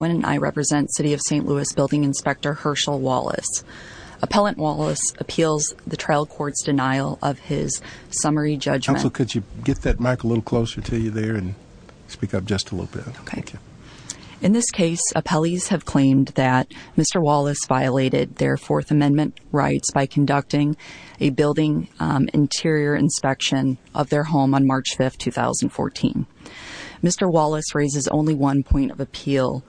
City of St. Louis Building Inspector Hershell Wallace. Appellant Wallace appeals the trial court's denial of his summary judgment. Counsel, could you get that mic a little closer to you there and speak up just a little bit. Okay. Thank you. In this case, appellees have claimed that Mr. Wallace violated their Fourth Amendment rights by conducting a building interior inspection of their home on March 5, 2014. Mr. Wallace raises only one point of appeal,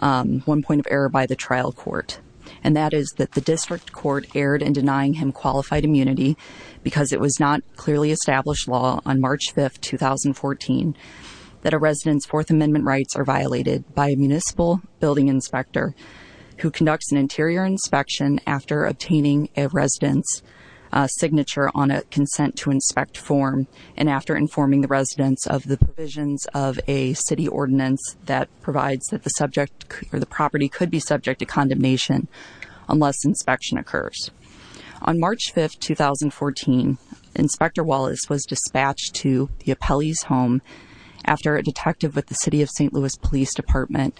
one point of error by the trial court, and that is that the district court erred in denying him qualified immunity because it was not clearly established law on March 5, 2014 that a resident's Fourth Amendment rights are violated by a municipal building inspector who conducts an interior inspection after obtaining a resident's signature on a consent-to-inspect form and after informing the residents of the provisions of a city ordinance that provides that the subject or the property could be subject to condemnation unless inspection occurs. On March 5, 2014, Inspector Wallace was dispatched to the appellee's home after a detective with the City of St. Louis Police Department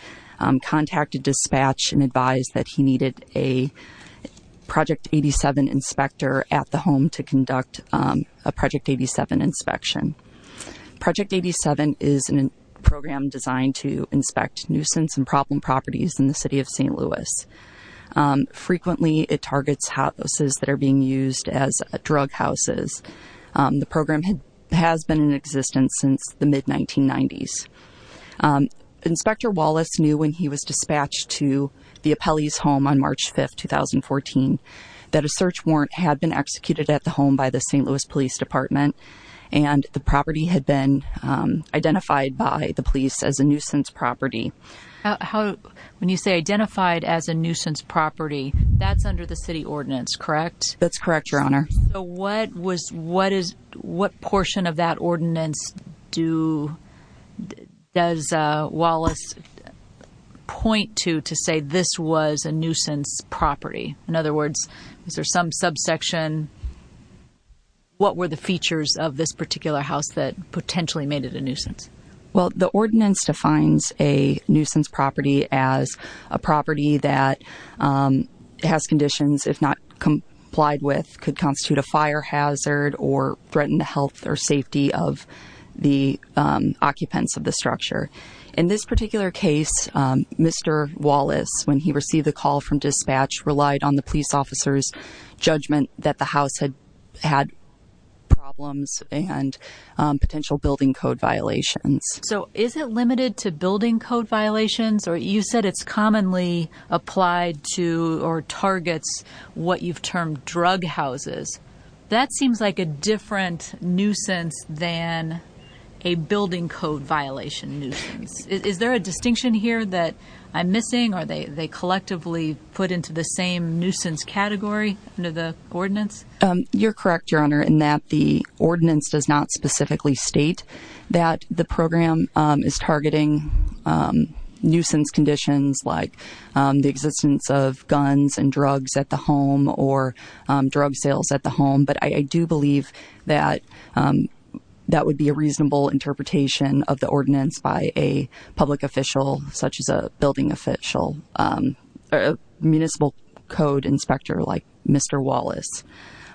contacted dispatch and advised that he needed a Project 87 inspector at the home to conduct a Project 87 inspection. Project 87 is a program designed to inspect nuisance and problem properties in the City of St. Louis. Frequently, it targets houses that are being used as drug houses. The program has been in existence since the mid-1990s. Inspector Wallace knew when he was dispatched to the appellee's home on March 5, 2014 that a search warrant had been executed at the home by the St. Louis Police Department and the property had been identified by the police as a nuisance property. When you say identified as a nuisance property, that's under the city ordinance, correct? That's correct, Your Honor. So what portion of that ordinance does Wallace point to to say this was a nuisance property? In other words, is there some subsection? What were the features of this particular house that potentially made it a nuisance? Well, the ordinance defines a nuisance property as a property that has conditions, if not complied with, could constitute a fire hazard or threaten the health or safety of the occupants of the structure. In this particular case, Mr. Wallace, when he received the call from dispatch, relied on the police officer's judgment that the house had problems and potential building code violations. So is it limited to building code violations? You said it's commonly applied to or targets what you've termed drug houses. That seems like a different nuisance than a building code violation nuisance. Is there a distinction here that I'm missing? Are they collectively put into the same nuisance category under the ordinance? You're correct, Your Honor, in that the ordinance does not specifically state that the program is targeting nuisance conditions like the existence of guns and drugs at the home or drug sales at the home. But I do believe that that would be a reasonable interpretation of the ordinance by a public official, such as a building official or a municipal code inspector like Mr. Wallace.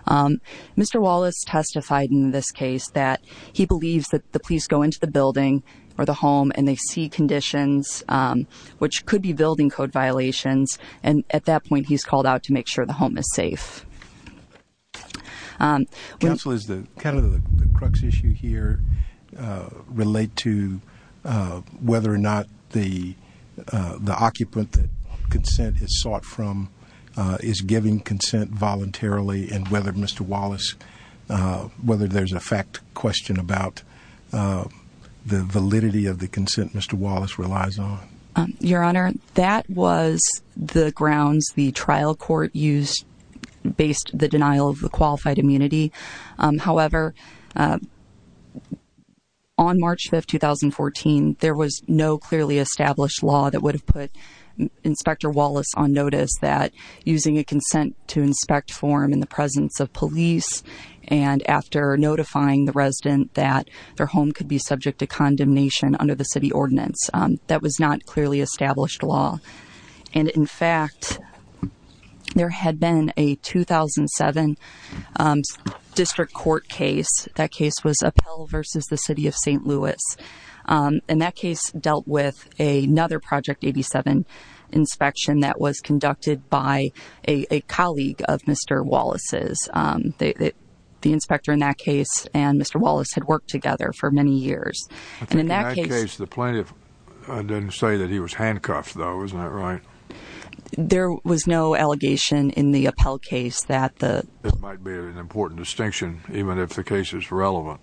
Mr. Wallace testified in this case that he believes that the police go into the building or the home and they see conditions which could be building code violations, and at that point he's called out to make sure the home is safe. Counsel, does the crux issue here relate to whether or not the occupant that consent is sought from is giving consent voluntarily and whether there's a fact question about the validity of the consent Mr. Wallace relies on? Your Honor, that was the grounds the trial court used based the denial of the qualified immunity. However, on March 5, 2014, there was no clearly established law that would have put Inspector Wallace on notice that using a consent to inspect form in the presence of police and after notifying the resident that their home could be subject to condemnation under the city ordinance. That was not clearly established law. And, in fact, there had been a 2007 district court case. That case was Appel v. the City of St. Louis. And that case dealt with another Project 87 inspection that was conducted by a colleague of Mr. Wallace's. The inspector in that case and Mr. Wallace had worked together for many years. I think in that case the plaintiff didn't say that he was handcuffed, though. Isn't that right? There was no allegation in the Appel case that the... It might be an important distinction even if the case is relevant.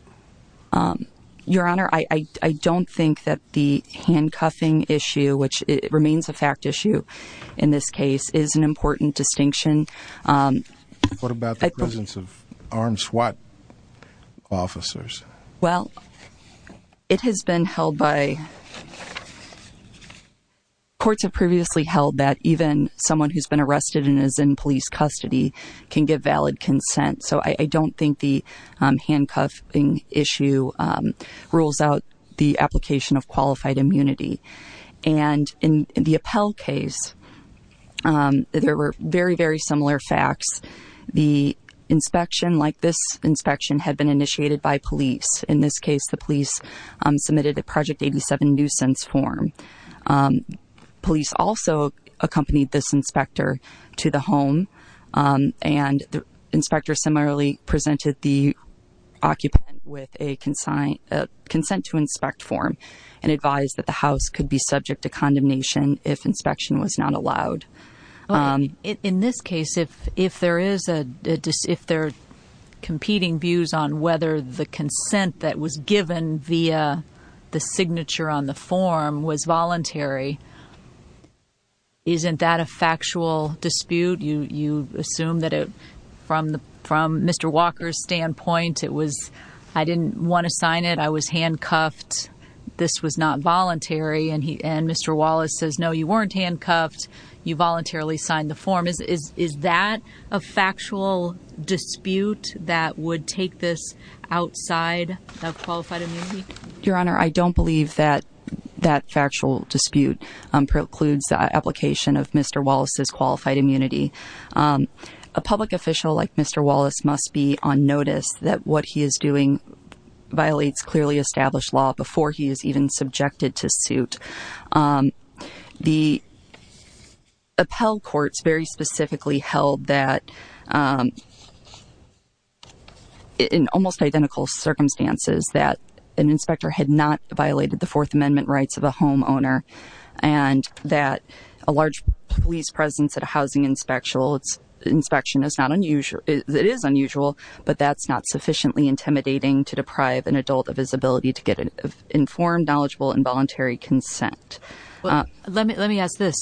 Your Honor, I don't think that the handcuffing issue, which remains a fact issue in this case, is an important distinction. What about the presence of armed SWAT officers? Well, it has been held by... Courts have previously held that even someone who's been arrested and is in police custody can give valid consent. So I don't think the handcuffing issue rules out the application of qualified immunity. And in the Appel case, there were very, very similar facts. The inspection, like this inspection, had been initiated by police. In this case, the police submitted a Project 87 nuisance form. Police also accompanied this inspector to the home. And the inspector similarly presented the occupant with a consent to inspect form and advised that the house could be subject to condemnation if inspection was not allowed. In this case, if there are competing views on whether the consent that was given via the signature on the form was voluntary, isn't that a factual dispute? You assume that from Mr. Walker's standpoint, it was, I didn't want to sign it, I was handcuffed, this was not voluntary. And Mr. Wallace says, no, you weren't handcuffed, you voluntarily signed the form. Is that a factual dispute that would take this outside of qualified immunity? Your Honor, I don't believe that that factual dispute precludes the application of Mr. Wallace's qualified immunity. A public official like Mr. Wallace must be on notice that what he is doing violates clearly established law before he is even subjected to suit. The Appel courts very specifically held that, in almost identical circumstances, that an inspector had not violated the Fourth Amendment rights of a homeowner and that a large police presence at a housing inspection is unusual, but that's not sufficiently intimidating to deprive an adult of his ability to get informed, knowledgeable, and voluntary consent. Let me ask this.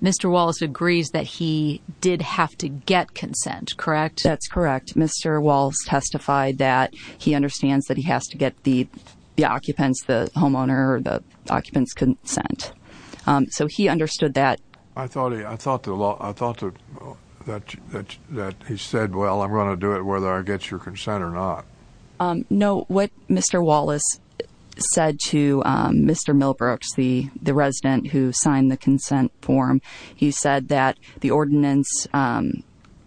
Mr. Wallace agrees that he did have to get consent, correct? That's correct. Mr. Wallace testified that he understands that he has to get the occupant's, the homeowner, the occupant's consent. So he understood that. I thought that he said, well, I'm going to do it whether I get your consent or not. No, what Mr. Wallace said to Mr. Milbrooks, the resident who signed the consent form, he said that the ordinance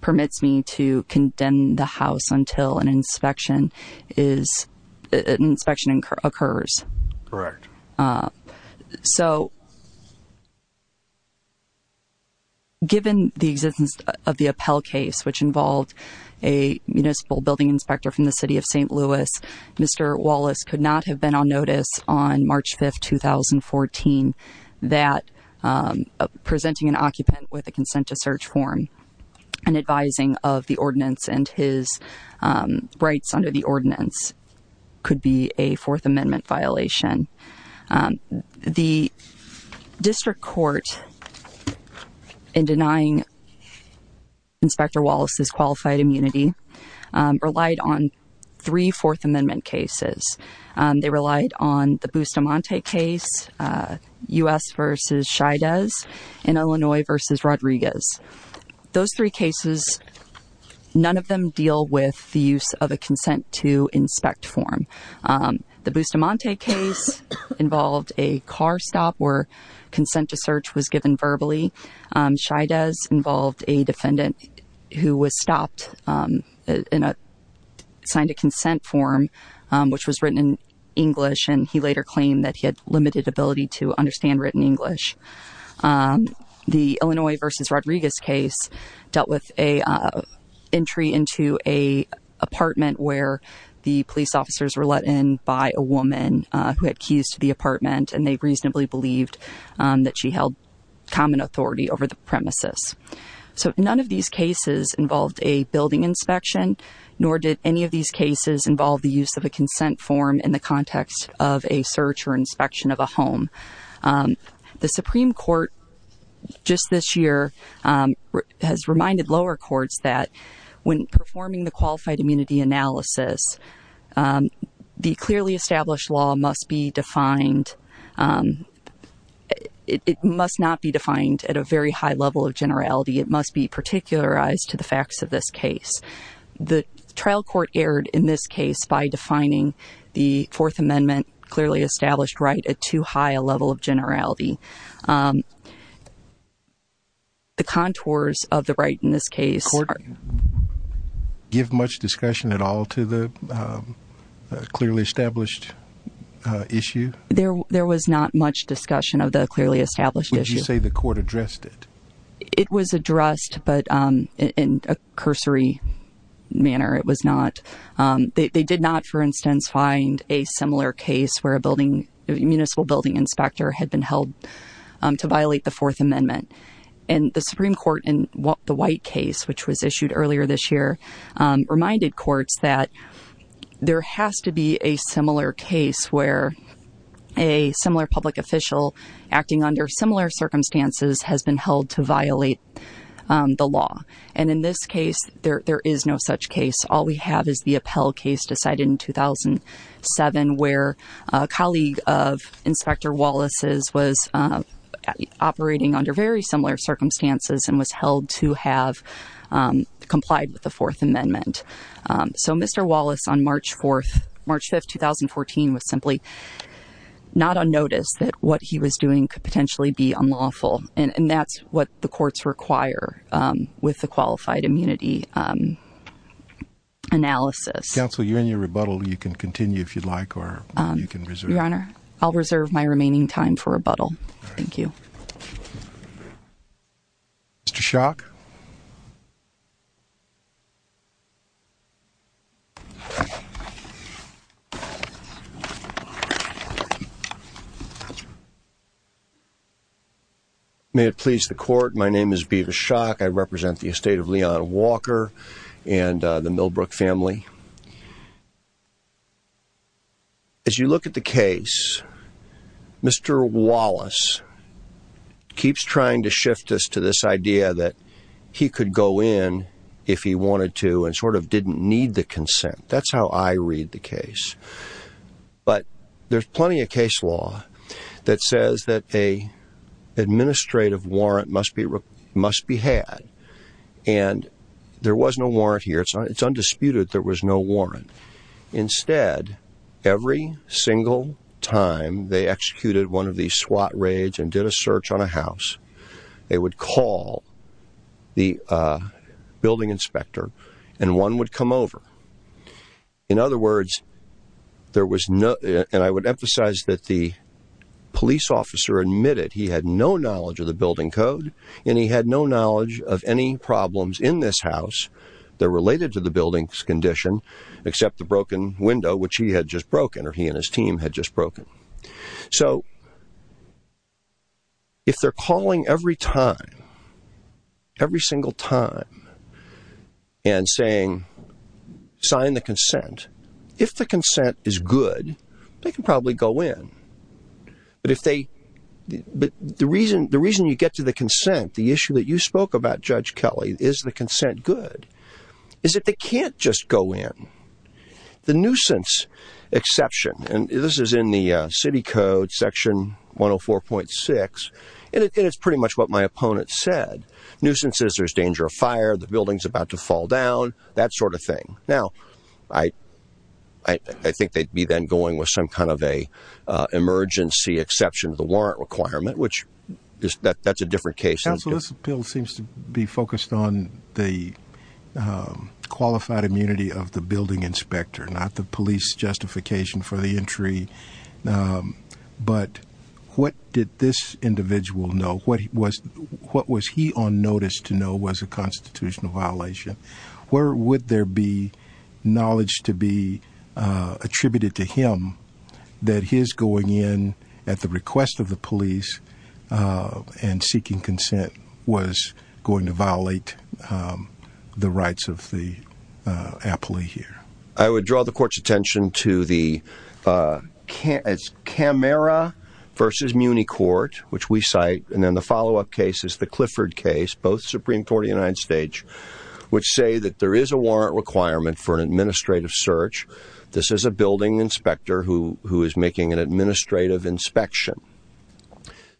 permits me to condemn the house until an inspection occurs. Correct. So, given the existence of the Appel case, which involved a municipal building inspector from the city of St. Louis, Mr. Wallace could not have been on notice on March 5th, 2014, that presenting an occupant with a consent to search form and advising of the ordinance and his rights under the ordinance could be a Fourth Amendment violation. The district court, in denying Inspector Wallace's qualified immunity, relied on three Fourth Amendment cases. They relied on the Bustamante case, U.S. v. Chaidez, and Illinois v. Rodriguez. Those three cases, none of them deal with the use of a consent to inspect form. The Bustamante case involved a car stop where consent to search was given verbally. Chaidez involved a defendant who was stopped, signed a consent form, which was written in English, and he later claimed that he had limited ability to understand written English. The Illinois v. Rodriguez case dealt with an entry into an apartment where the police officers were let in by a woman who had keys to the apartment, and they reasonably believed that she held common authority over the premises. So, none of these cases involved a building inspection, nor did any of these cases involve the use of a consent form in the context of a search or inspection of a home. The Supreme Court, just this year, has reminded lower courts that when performing the qualified immunity analysis, the clearly established law must be defined. It must not be defined at a very high level of generality. It must be particularized to the facts of this case. The trial court erred in this case by defining the Fourth Amendment clearly established right at too high a level of generality. The contours of the right in this case are... Did the court give much discussion at all to the clearly established issue? There was not much discussion of the clearly established issue. Would you say the court addressed it? It was addressed, but in a cursory manner, it was not. They did not, for instance, find a similar case where a municipal building inspector had been held to violate the Fourth Amendment. And the Supreme Court in the White case, which was issued earlier this year, reminded courts that there has to be a similar case where a similar public official acting under similar circumstances has been held to violate the law. And in this case, there is no such case. All we have is the Appell case decided in 2007 where a colleague of Inspector Wallace's was operating under very similar circumstances and was held to have complied with the Fourth Amendment. So Mr. Wallace, on March 5, 2014, was simply not on notice that what he was doing could potentially be unlawful. And that's what the courts require with the qualified immunity analysis. Counsel, you're in your rebuttal. You can continue if you'd like, or you can reserve. Your Honor, I'll reserve my remaining time for rebuttal. Thank you. Mr. Schock? May it please the Court, my name is Beavis Schock. I represent the estate of Leon Walker and the Millbrook family. As you look at the case, Mr. Wallace keeps trying to shift us to this idea that he could go in if he wanted to and sort of didn't need the consent. That's how I read the case. But there's plenty of case law that says that an administrative warrant must be had. And there was no warrant here. It's undisputed there was no warrant. Instead, every single time they executed one of these SWAT raids and did a search on a house, they would call the building inspector and one would come over. In other words, there was no... and I would emphasize that the police officer admitted he had no knowledge of the building code and he had no knowledge of any problems in this house that related to the building's condition except the broken window, which he had just broken, or he and his team had just broken. So, if they're calling every time, every single time, and saying, sign the consent, if the consent is good, they can probably go in. But if they... the reason you get to the consent, the issue that you spoke about, Judge Kelly, is the consent good, is that they can't just go in. The nuisance exception, and this is in the City Code, Section 104.6, and it's pretty much what my opponent said. Nuisances, there's danger of fire, the building's about to fall down, that sort of thing. Now, I think they'd be then going with some kind of an emergency exception to the warrant requirement, which that's a different case. Counsel, this bill seems to be focused on the qualified immunity of the building inspector, not the police justification for the entry. But what did this individual know? What was he on notice to know was a constitutional violation? Where would there be knowledge to be attributed to him that his going in at the request of the police and seeking consent was going to violate the rights of the appellee here? I would draw the Court's attention to the Camara v. Muni Court, which we cite, and then the follow-up case is the Clifford case, both Supreme Court of the United States, which say that there is a warrant requirement for an administrative search. This is a building inspector who is making an administrative inspection.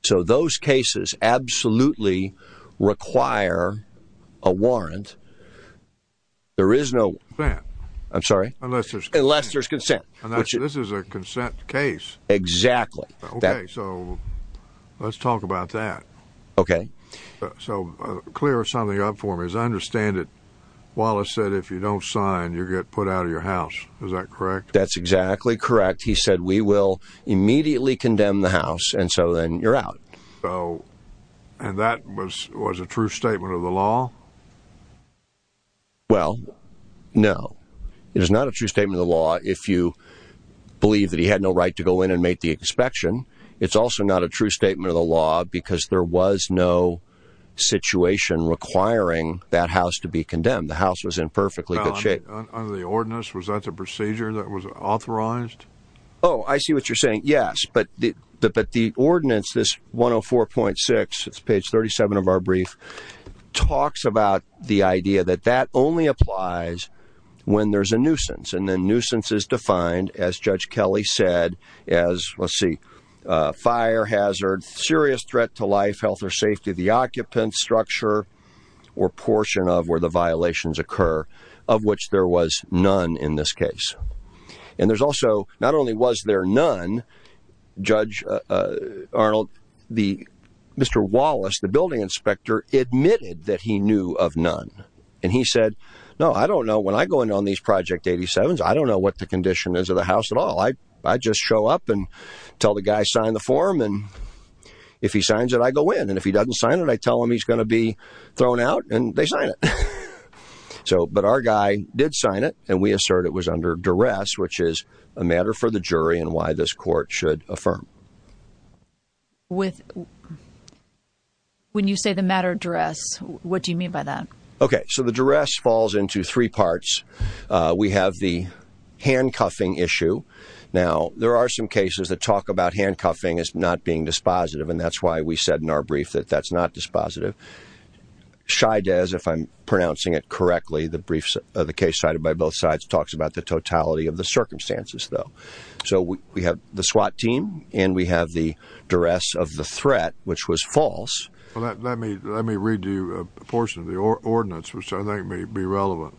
So those cases absolutely require a warrant. There is no... Consent. I'm sorry? Unless there's consent. Unless there's consent. This is a consent case. Exactly. Okay, so let's talk about that. Okay. So clear something up for me. As I understand it, Wallace said if you don't sign, you get put out of your house. Is that correct? That's exactly correct. He said we will immediately condemn the house, and so then you're out. So, and that was a true statement of the law? Well, no. It is not a true statement of the law if you believe that he had no right to go in and make the inspection. It's also not a true statement of the law because there was no situation requiring that house to be condemned. The house was in perfectly good shape. Under the ordinance, was that the procedure that was authorized? Oh, I see what you're saying, yes. But the ordinance, this 104.6, it's page 37 of our brief, talks about the idea that that only applies when there's a nuisance, and then nuisance is defined, as Judge Kelly said, as, let's see, fire hazard, serious threat to life, health or safety of the occupant, structure or portion of where the violations occur, of which there was none in this case. And there's also, not only was there none, Judge Arnold, Mr. Wallace, the building inspector, admitted that he knew of none. And he said, no, I don't know, when I go in on these Project 87s, I don't know what the condition is of the house at all. I just show up and tell the guy, sign the form, and if he signs it, I go in. And if he doesn't sign it, I tell him he's going to be thrown out, and they sign it. But our guy did sign it, and we assert it was under duress, which is a matter for the jury and why this court should affirm. When you say the matter of duress, what do you mean by that? Okay, so the duress falls into three parts. We have the handcuffing issue. Now, there are some cases that talk about handcuffing as not being dispositive, and that's why we said in our brief that that's not dispositive. Shydes, if I'm pronouncing it correctly, the case cited by both sides, talks about the totality of the circumstances, though. So we have the SWAT team, and we have the duress of the threat, which was false. Let me read you a portion of the ordinance, which I think may be relevant.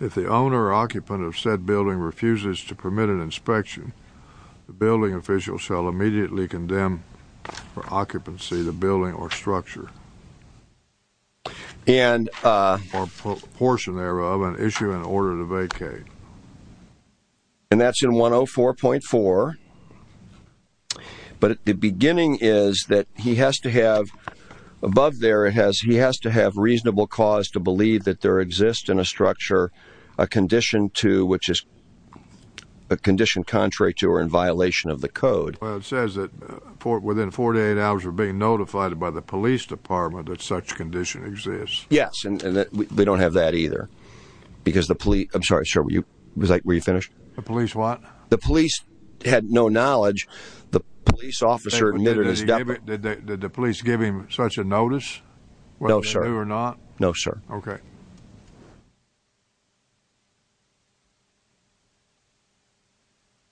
If the owner or occupant of said building refuses to permit an inspection, the building official shall immediately condemn for occupancy the building or structure or portion thereof and issue an order to vacate. And that's in 104.4. But the beginning is that he has to have, above there, he has to have reasonable cause to believe that there exists in a structure a condition to, which is a condition contrary to or in violation of the code. Well, it says that within 48 hours of being notified by the police department that such condition exists. Yes, and they don't have that either, because the police, I'm sorry, sir, were you finished? The police what? The police had no knowledge. The police officer admitted his death. Did the police give him such a notice? No, sir. They were not? No, sir. Okay.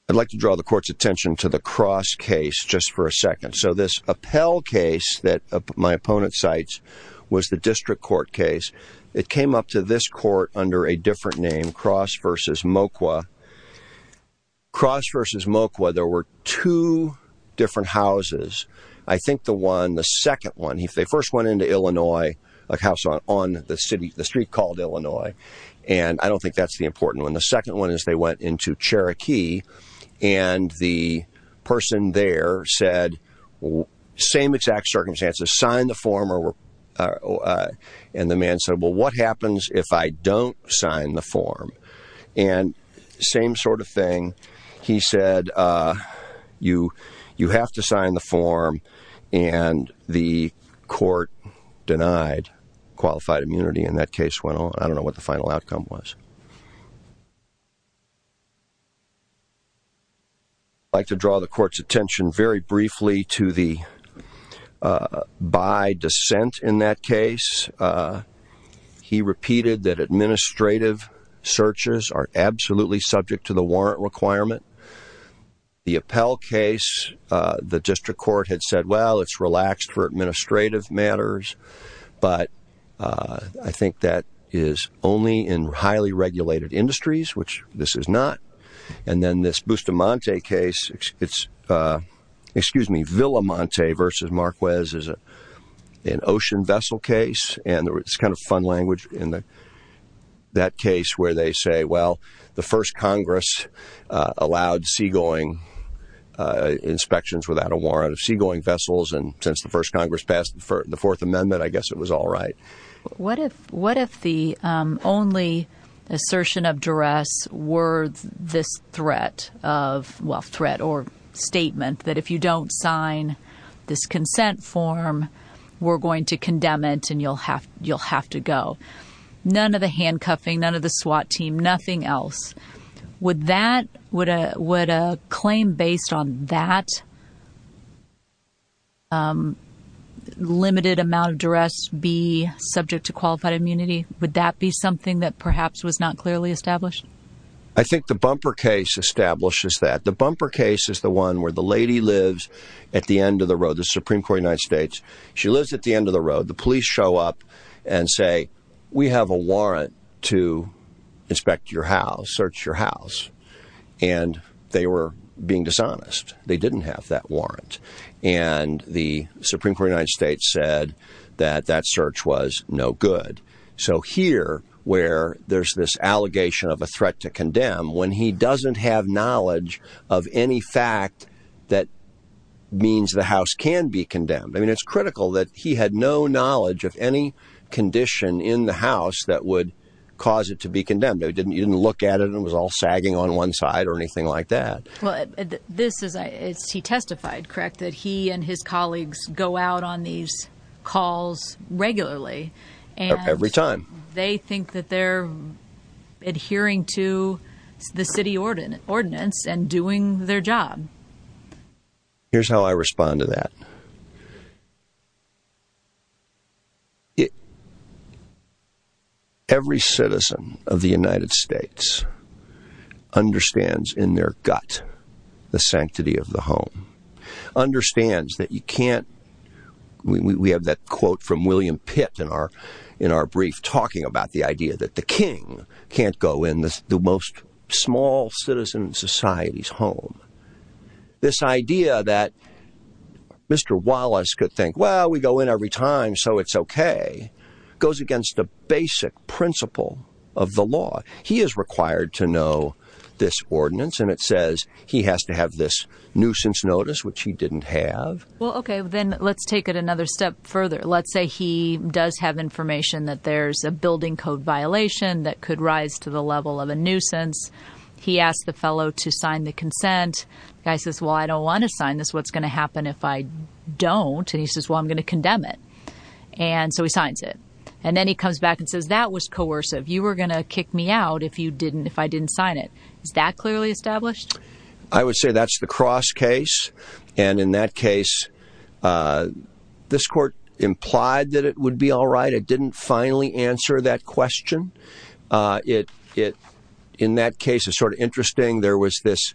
I'd like to draw the court's attention to the Cross case just for a second. So this Appell case that my opponent cites was the district court case. It came up to this court under a different name, Cross v. Moqua. Cross v. Moqua, there were two different houses. I think the one, the second one, if they first went into Illinois, a house on the street called Illinois, and I don't think that's the important one. The second one is they went into Cherokee, and the person there said, same exact circumstances, sign the form, and the man said, well, what happens if I don't sign the form? And same sort of thing. He said, you have to sign the form, and the court denied qualified immunity, and that case went on. I don't know what the final outcome was. I'd like to draw the court's attention very briefly to the by dissent in that case. He repeated that administrative searches are absolutely subject to the warrant requirement. The Appell case, the district court had said, well, it's relaxed for administrative matters, but I think that is only in highly regulated industries, which this is not. And then this Bustamante case, it's, excuse me, Villamonte v. Marquez is an ocean vessel case, and it's kind of fun language in that case where they say, well, the first Congress allowed seagoing inspections without a warrant of seagoing vessels, and since the first Congress passed the Fourth Amendment, I guess it was all right. What if the only assertion of duress were this threat of, well, threat or statement that if you don't sign this consent form, we're going to condemn it and you'll have to go? None of the handcuffing, none of the SWAT team, nothing else. Would a claim based on that limited amount of duress be subject to qualified immunity? Would that be something that perhaps was not clearly established? I think the bumper case establishes that. The bumper case is the one where the lady lives at the end of the road, the Supreme Court of the United States. She lives at the end of the road. The police show up and say, we have a warrant to inspect your house, search your house, and they were being dishonest. They didn't have that warrant, and the Supreme Court of the United States said that that search was no good. So here, where there's this allegation of a threat to condemn when he doesn't have knowledge of any fact that means the house can be condemned. I mean, it's critical that he had no knowledge of any condition in the house that would cause it to be condemned. You didn't look at it and it was all sagging on one side or anything like that. He testified, correct, that he and his colleagues go out on these calls regularly. Every time. They think that they're adhering to the city ordinance and doing their job. Here's how I respond to that. Every citizen of the United States understands in their gut the sanctity of the home. Understands that you can't. We have that quote from William Pitt in our in our brief talking about the idea that the king can't go in the most small citizen society's home. This idea that Mr. Wallace could think, well, we go in every time, so it's OK, goes against the basic principle of the law. He is required to know this ordinance, and it says he has to have this nuisance notice, which he didn't have. Well, OK, then let's take it another step further. Let's say he does have information that there's a building code violation that could rise to the level of a nuisance. He asked the fellow to sign the consent. Guy says, well, I don't want to sign this. What's going to happen if I don't? And he says, well, I'm going to condemn it. And so he signs it and then he comes back and says that was coercive. You were going to kick me out if you didn't if I didn't sign it. Is that clearly established? I would say that's the cross case. And in that case, this court implied that it would be all right. It didn't finally answer that question. It in that case is sort of interesting. There was this.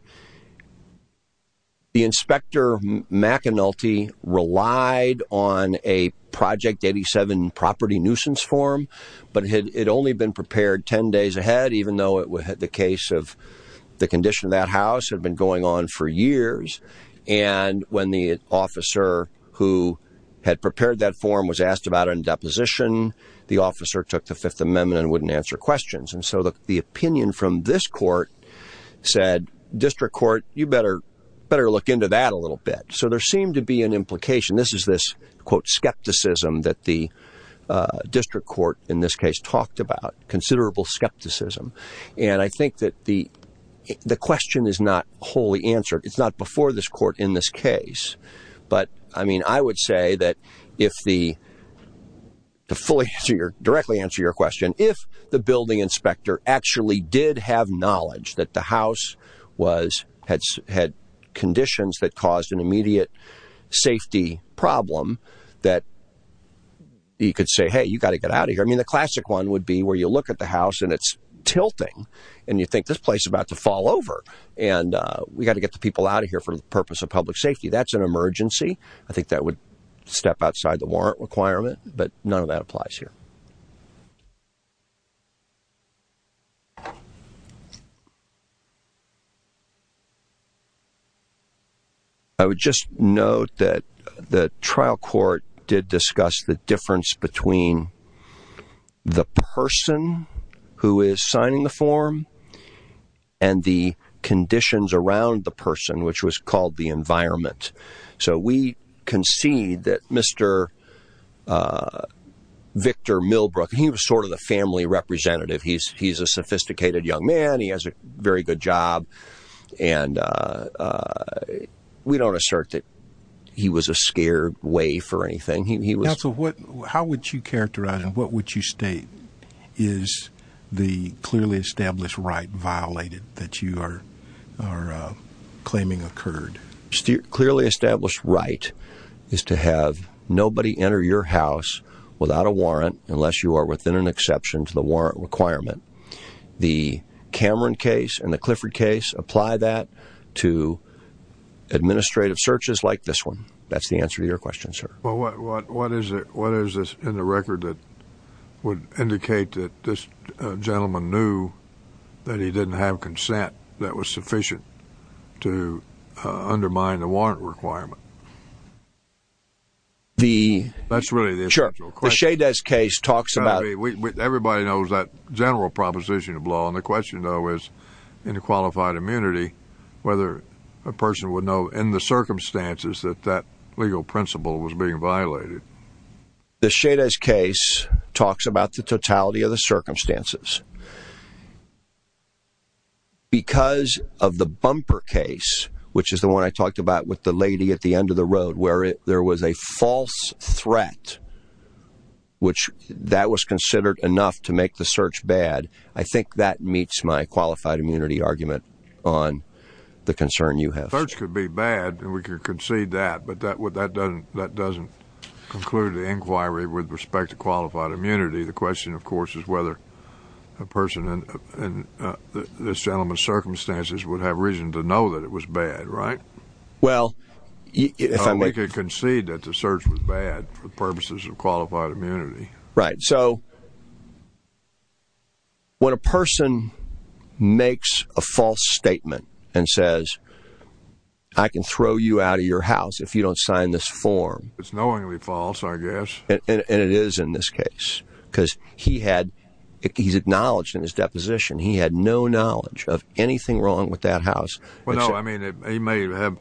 The inspector, McEnulty, relied on a Project 87 property nuisance form, but it had only been prepared 10 days ahead, even though it was the case of the condition of that house had been going on for years. And when the officer who had prepared that form was asked about in deposition, the officer took the Fifth Amendment and wouldn't answer questions. And so the opinion from this court said district court, you better better look into that a little bit. So there seemed to be an implication. This is this, quote, skepticism that the district court in this case talked about considerable skepticism. And I think that the the question is not wholly answered. It's not before this court in this case. But I mean, I would say that if the fully answer your directly answer your question, if the building inspector actually did have knowledge that the house was had had conditions that caused an immediate safety problem that. You could say, hey, you got to get out of here. I mean, the classic one would be where you look at the house and it's tilting and you think this place about to fall over. And we got to get the people out of here for the purpose of public safety. That's an emergency. I think that would step outside the warrant requirement. But none of that applies here. I would just note that the trial court did discuss the difference between the person who is signing the form and the conditions around the person, which was called the environment. So we concede that Mr. Victor Millbrook, he was sort of the family representative. He's he's a sophisticated young man. He has a very good job. And we don't assert that he was a scared way for anything. He was. So what how would you characterize and what would you state is the clearly established right violated that you are claiming occurred? Clearly established right is to have nobody enter your house without a warrant unless you are within an exception to the warrant requirement. The Cameron case and the Clifford case apply that to administrative searches like this one. That's the answer to your question, sir. Well, what what what is it? What is this in the record that would indicate that this gentleman knew that he didn't have consent that was sufficient to undermine the warrant requirement? The that's really the question. Everybody knows that general proposition of law. And the question, though, is in a qualified immunity, whether a person would know in the circumstances that that legal principle was being violated. The Chavez case talks about the totality of the circumstances. Because of the bumper case, which is the one I talked about with the lady at the end of the road where there was a false threat. Which that was considered enough to make the search bad. I think that meets my qualified immunity argument on the concern you have. The search could be bad and we could concede that. But that would that doesn't that doesn't conclude the inquiry with respect to qualified immunity. The question, of course, is whether a person in this gentleman's circumstances would have reason to know that it was bad. Right. Well, if I make a concede that the search was bad for purposes of qualified immunity. Right. So. When a person makes a false statement and says, I can throw you out of your house if you don't sign this form. It's knowingly false, I guess. And it is in this case because he had he's acknowledged in his deposition he had no knowledge of anything wrong with that house. Well, no, I mean, he may have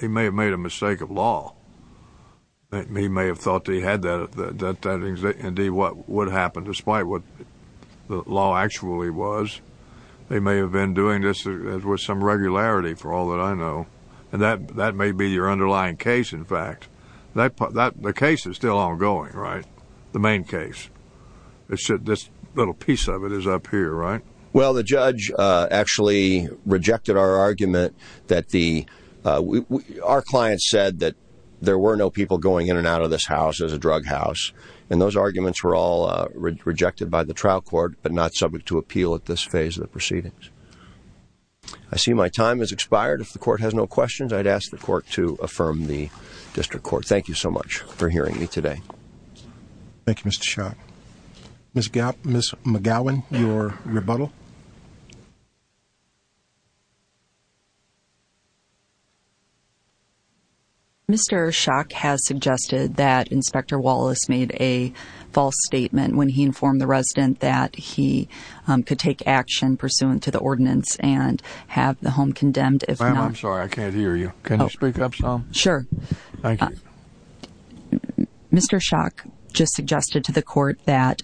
he may have made a mistake of law. He may have thought he had that that that indeed what would happen despite what the law actually was. They may have been doing this with some regularity for all that I know. And that that may be your underlying case. In fact, that the case is still ongoing. Right. The main case. This little piece of it is up here. Right. Well, the judge actually rejected our argument that the our client said that there were no people going in and out of this house as a drug house. And those arguments were all rejected by the trial court, but not subject to appeal at this phase of the proceedings. I see my time has expired. If the court has no questions, I'd ask the court to affirm the district court. Thank you so much for hearing me today. Thank you, Mr. Shot. Miss Gap, Miss McGowan, your rebuttal. Mr. Shock has suggested that Inspector Wallace made a false statement when he informed the resident that he could take action pursuant to the ordinance and have the home condemned. If I'm sorry, I can't hear you. Can you speak up? Sure. Mr. Shock just suggested to the court that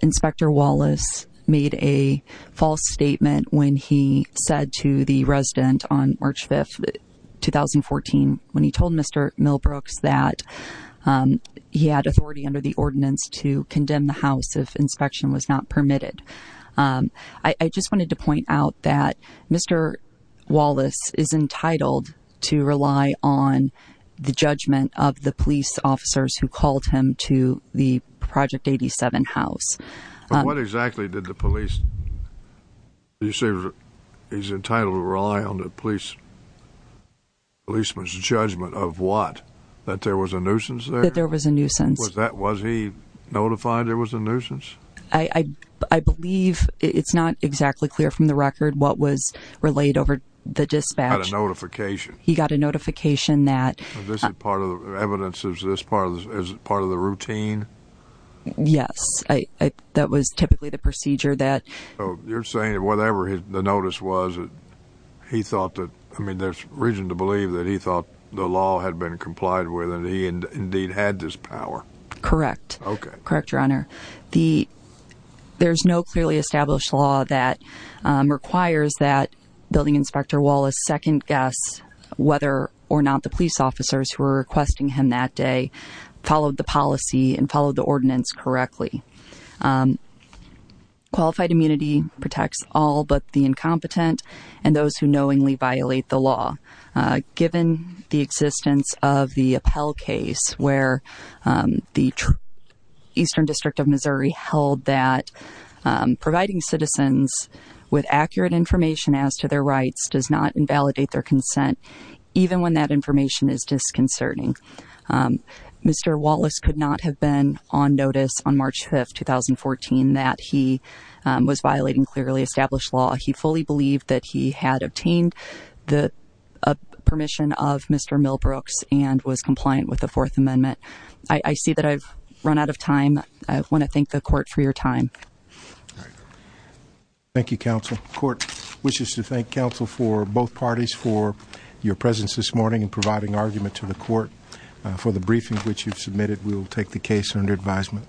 Inspector Wallace made a false statement when he said to the resident on March 5th, 2014, when he told Mr. Millbrooks that he had authority under the ordinance to condemn the house if inspection was not permitted. I just wanted to point out that Mr. Wallace is entitled to rely on the judgment of the police officers who called him to the Project 87 house. What exactly did the police, you say he's entitled to rely on the police, policeman's judgment of what? That there was a nuisance there? That there was a nuisance. I believe it's not exactly clear from the record what was relayed over the dispatch. He got a notification. He got a notification that... This is part of the evidence. Is this part of the routine? Yes. That was typically the procedure that... You're saying that whatever the notice was, he thought that, I mean, there's reason to believe that he thought the law had been complied with and he indeed had this power. Correct. Okay. Correct, Your Honor. There's no clearly established law that requires that Building Inspector Wallace second-guess whether or not the police officers who were requesting him that day followed the policy and followed the ordinance correctly. Qualified immunity protects all but the incompetent and those who knowingly violate the law. Given the existence of the appellate case where the Eastern District of Missouri held that providing citizens with accurate information as to their rights does not invalidate their consent, even when that information is disconcerting. Mr. Wallace could not have been on notice on March 5th, 2014, that he was violating clearly established law. He fully believed that he had obtained the permission of Mr. Milbrooks and was compliant with the Fourth Amendment. I see that I've run out of time. I want to thank the court for your time. Thank you, counsel. The court wishes to thank counsel for both parties for your presence this morning in providing argument to the court. For the briefing which you've submitted, we will take the case under advisement.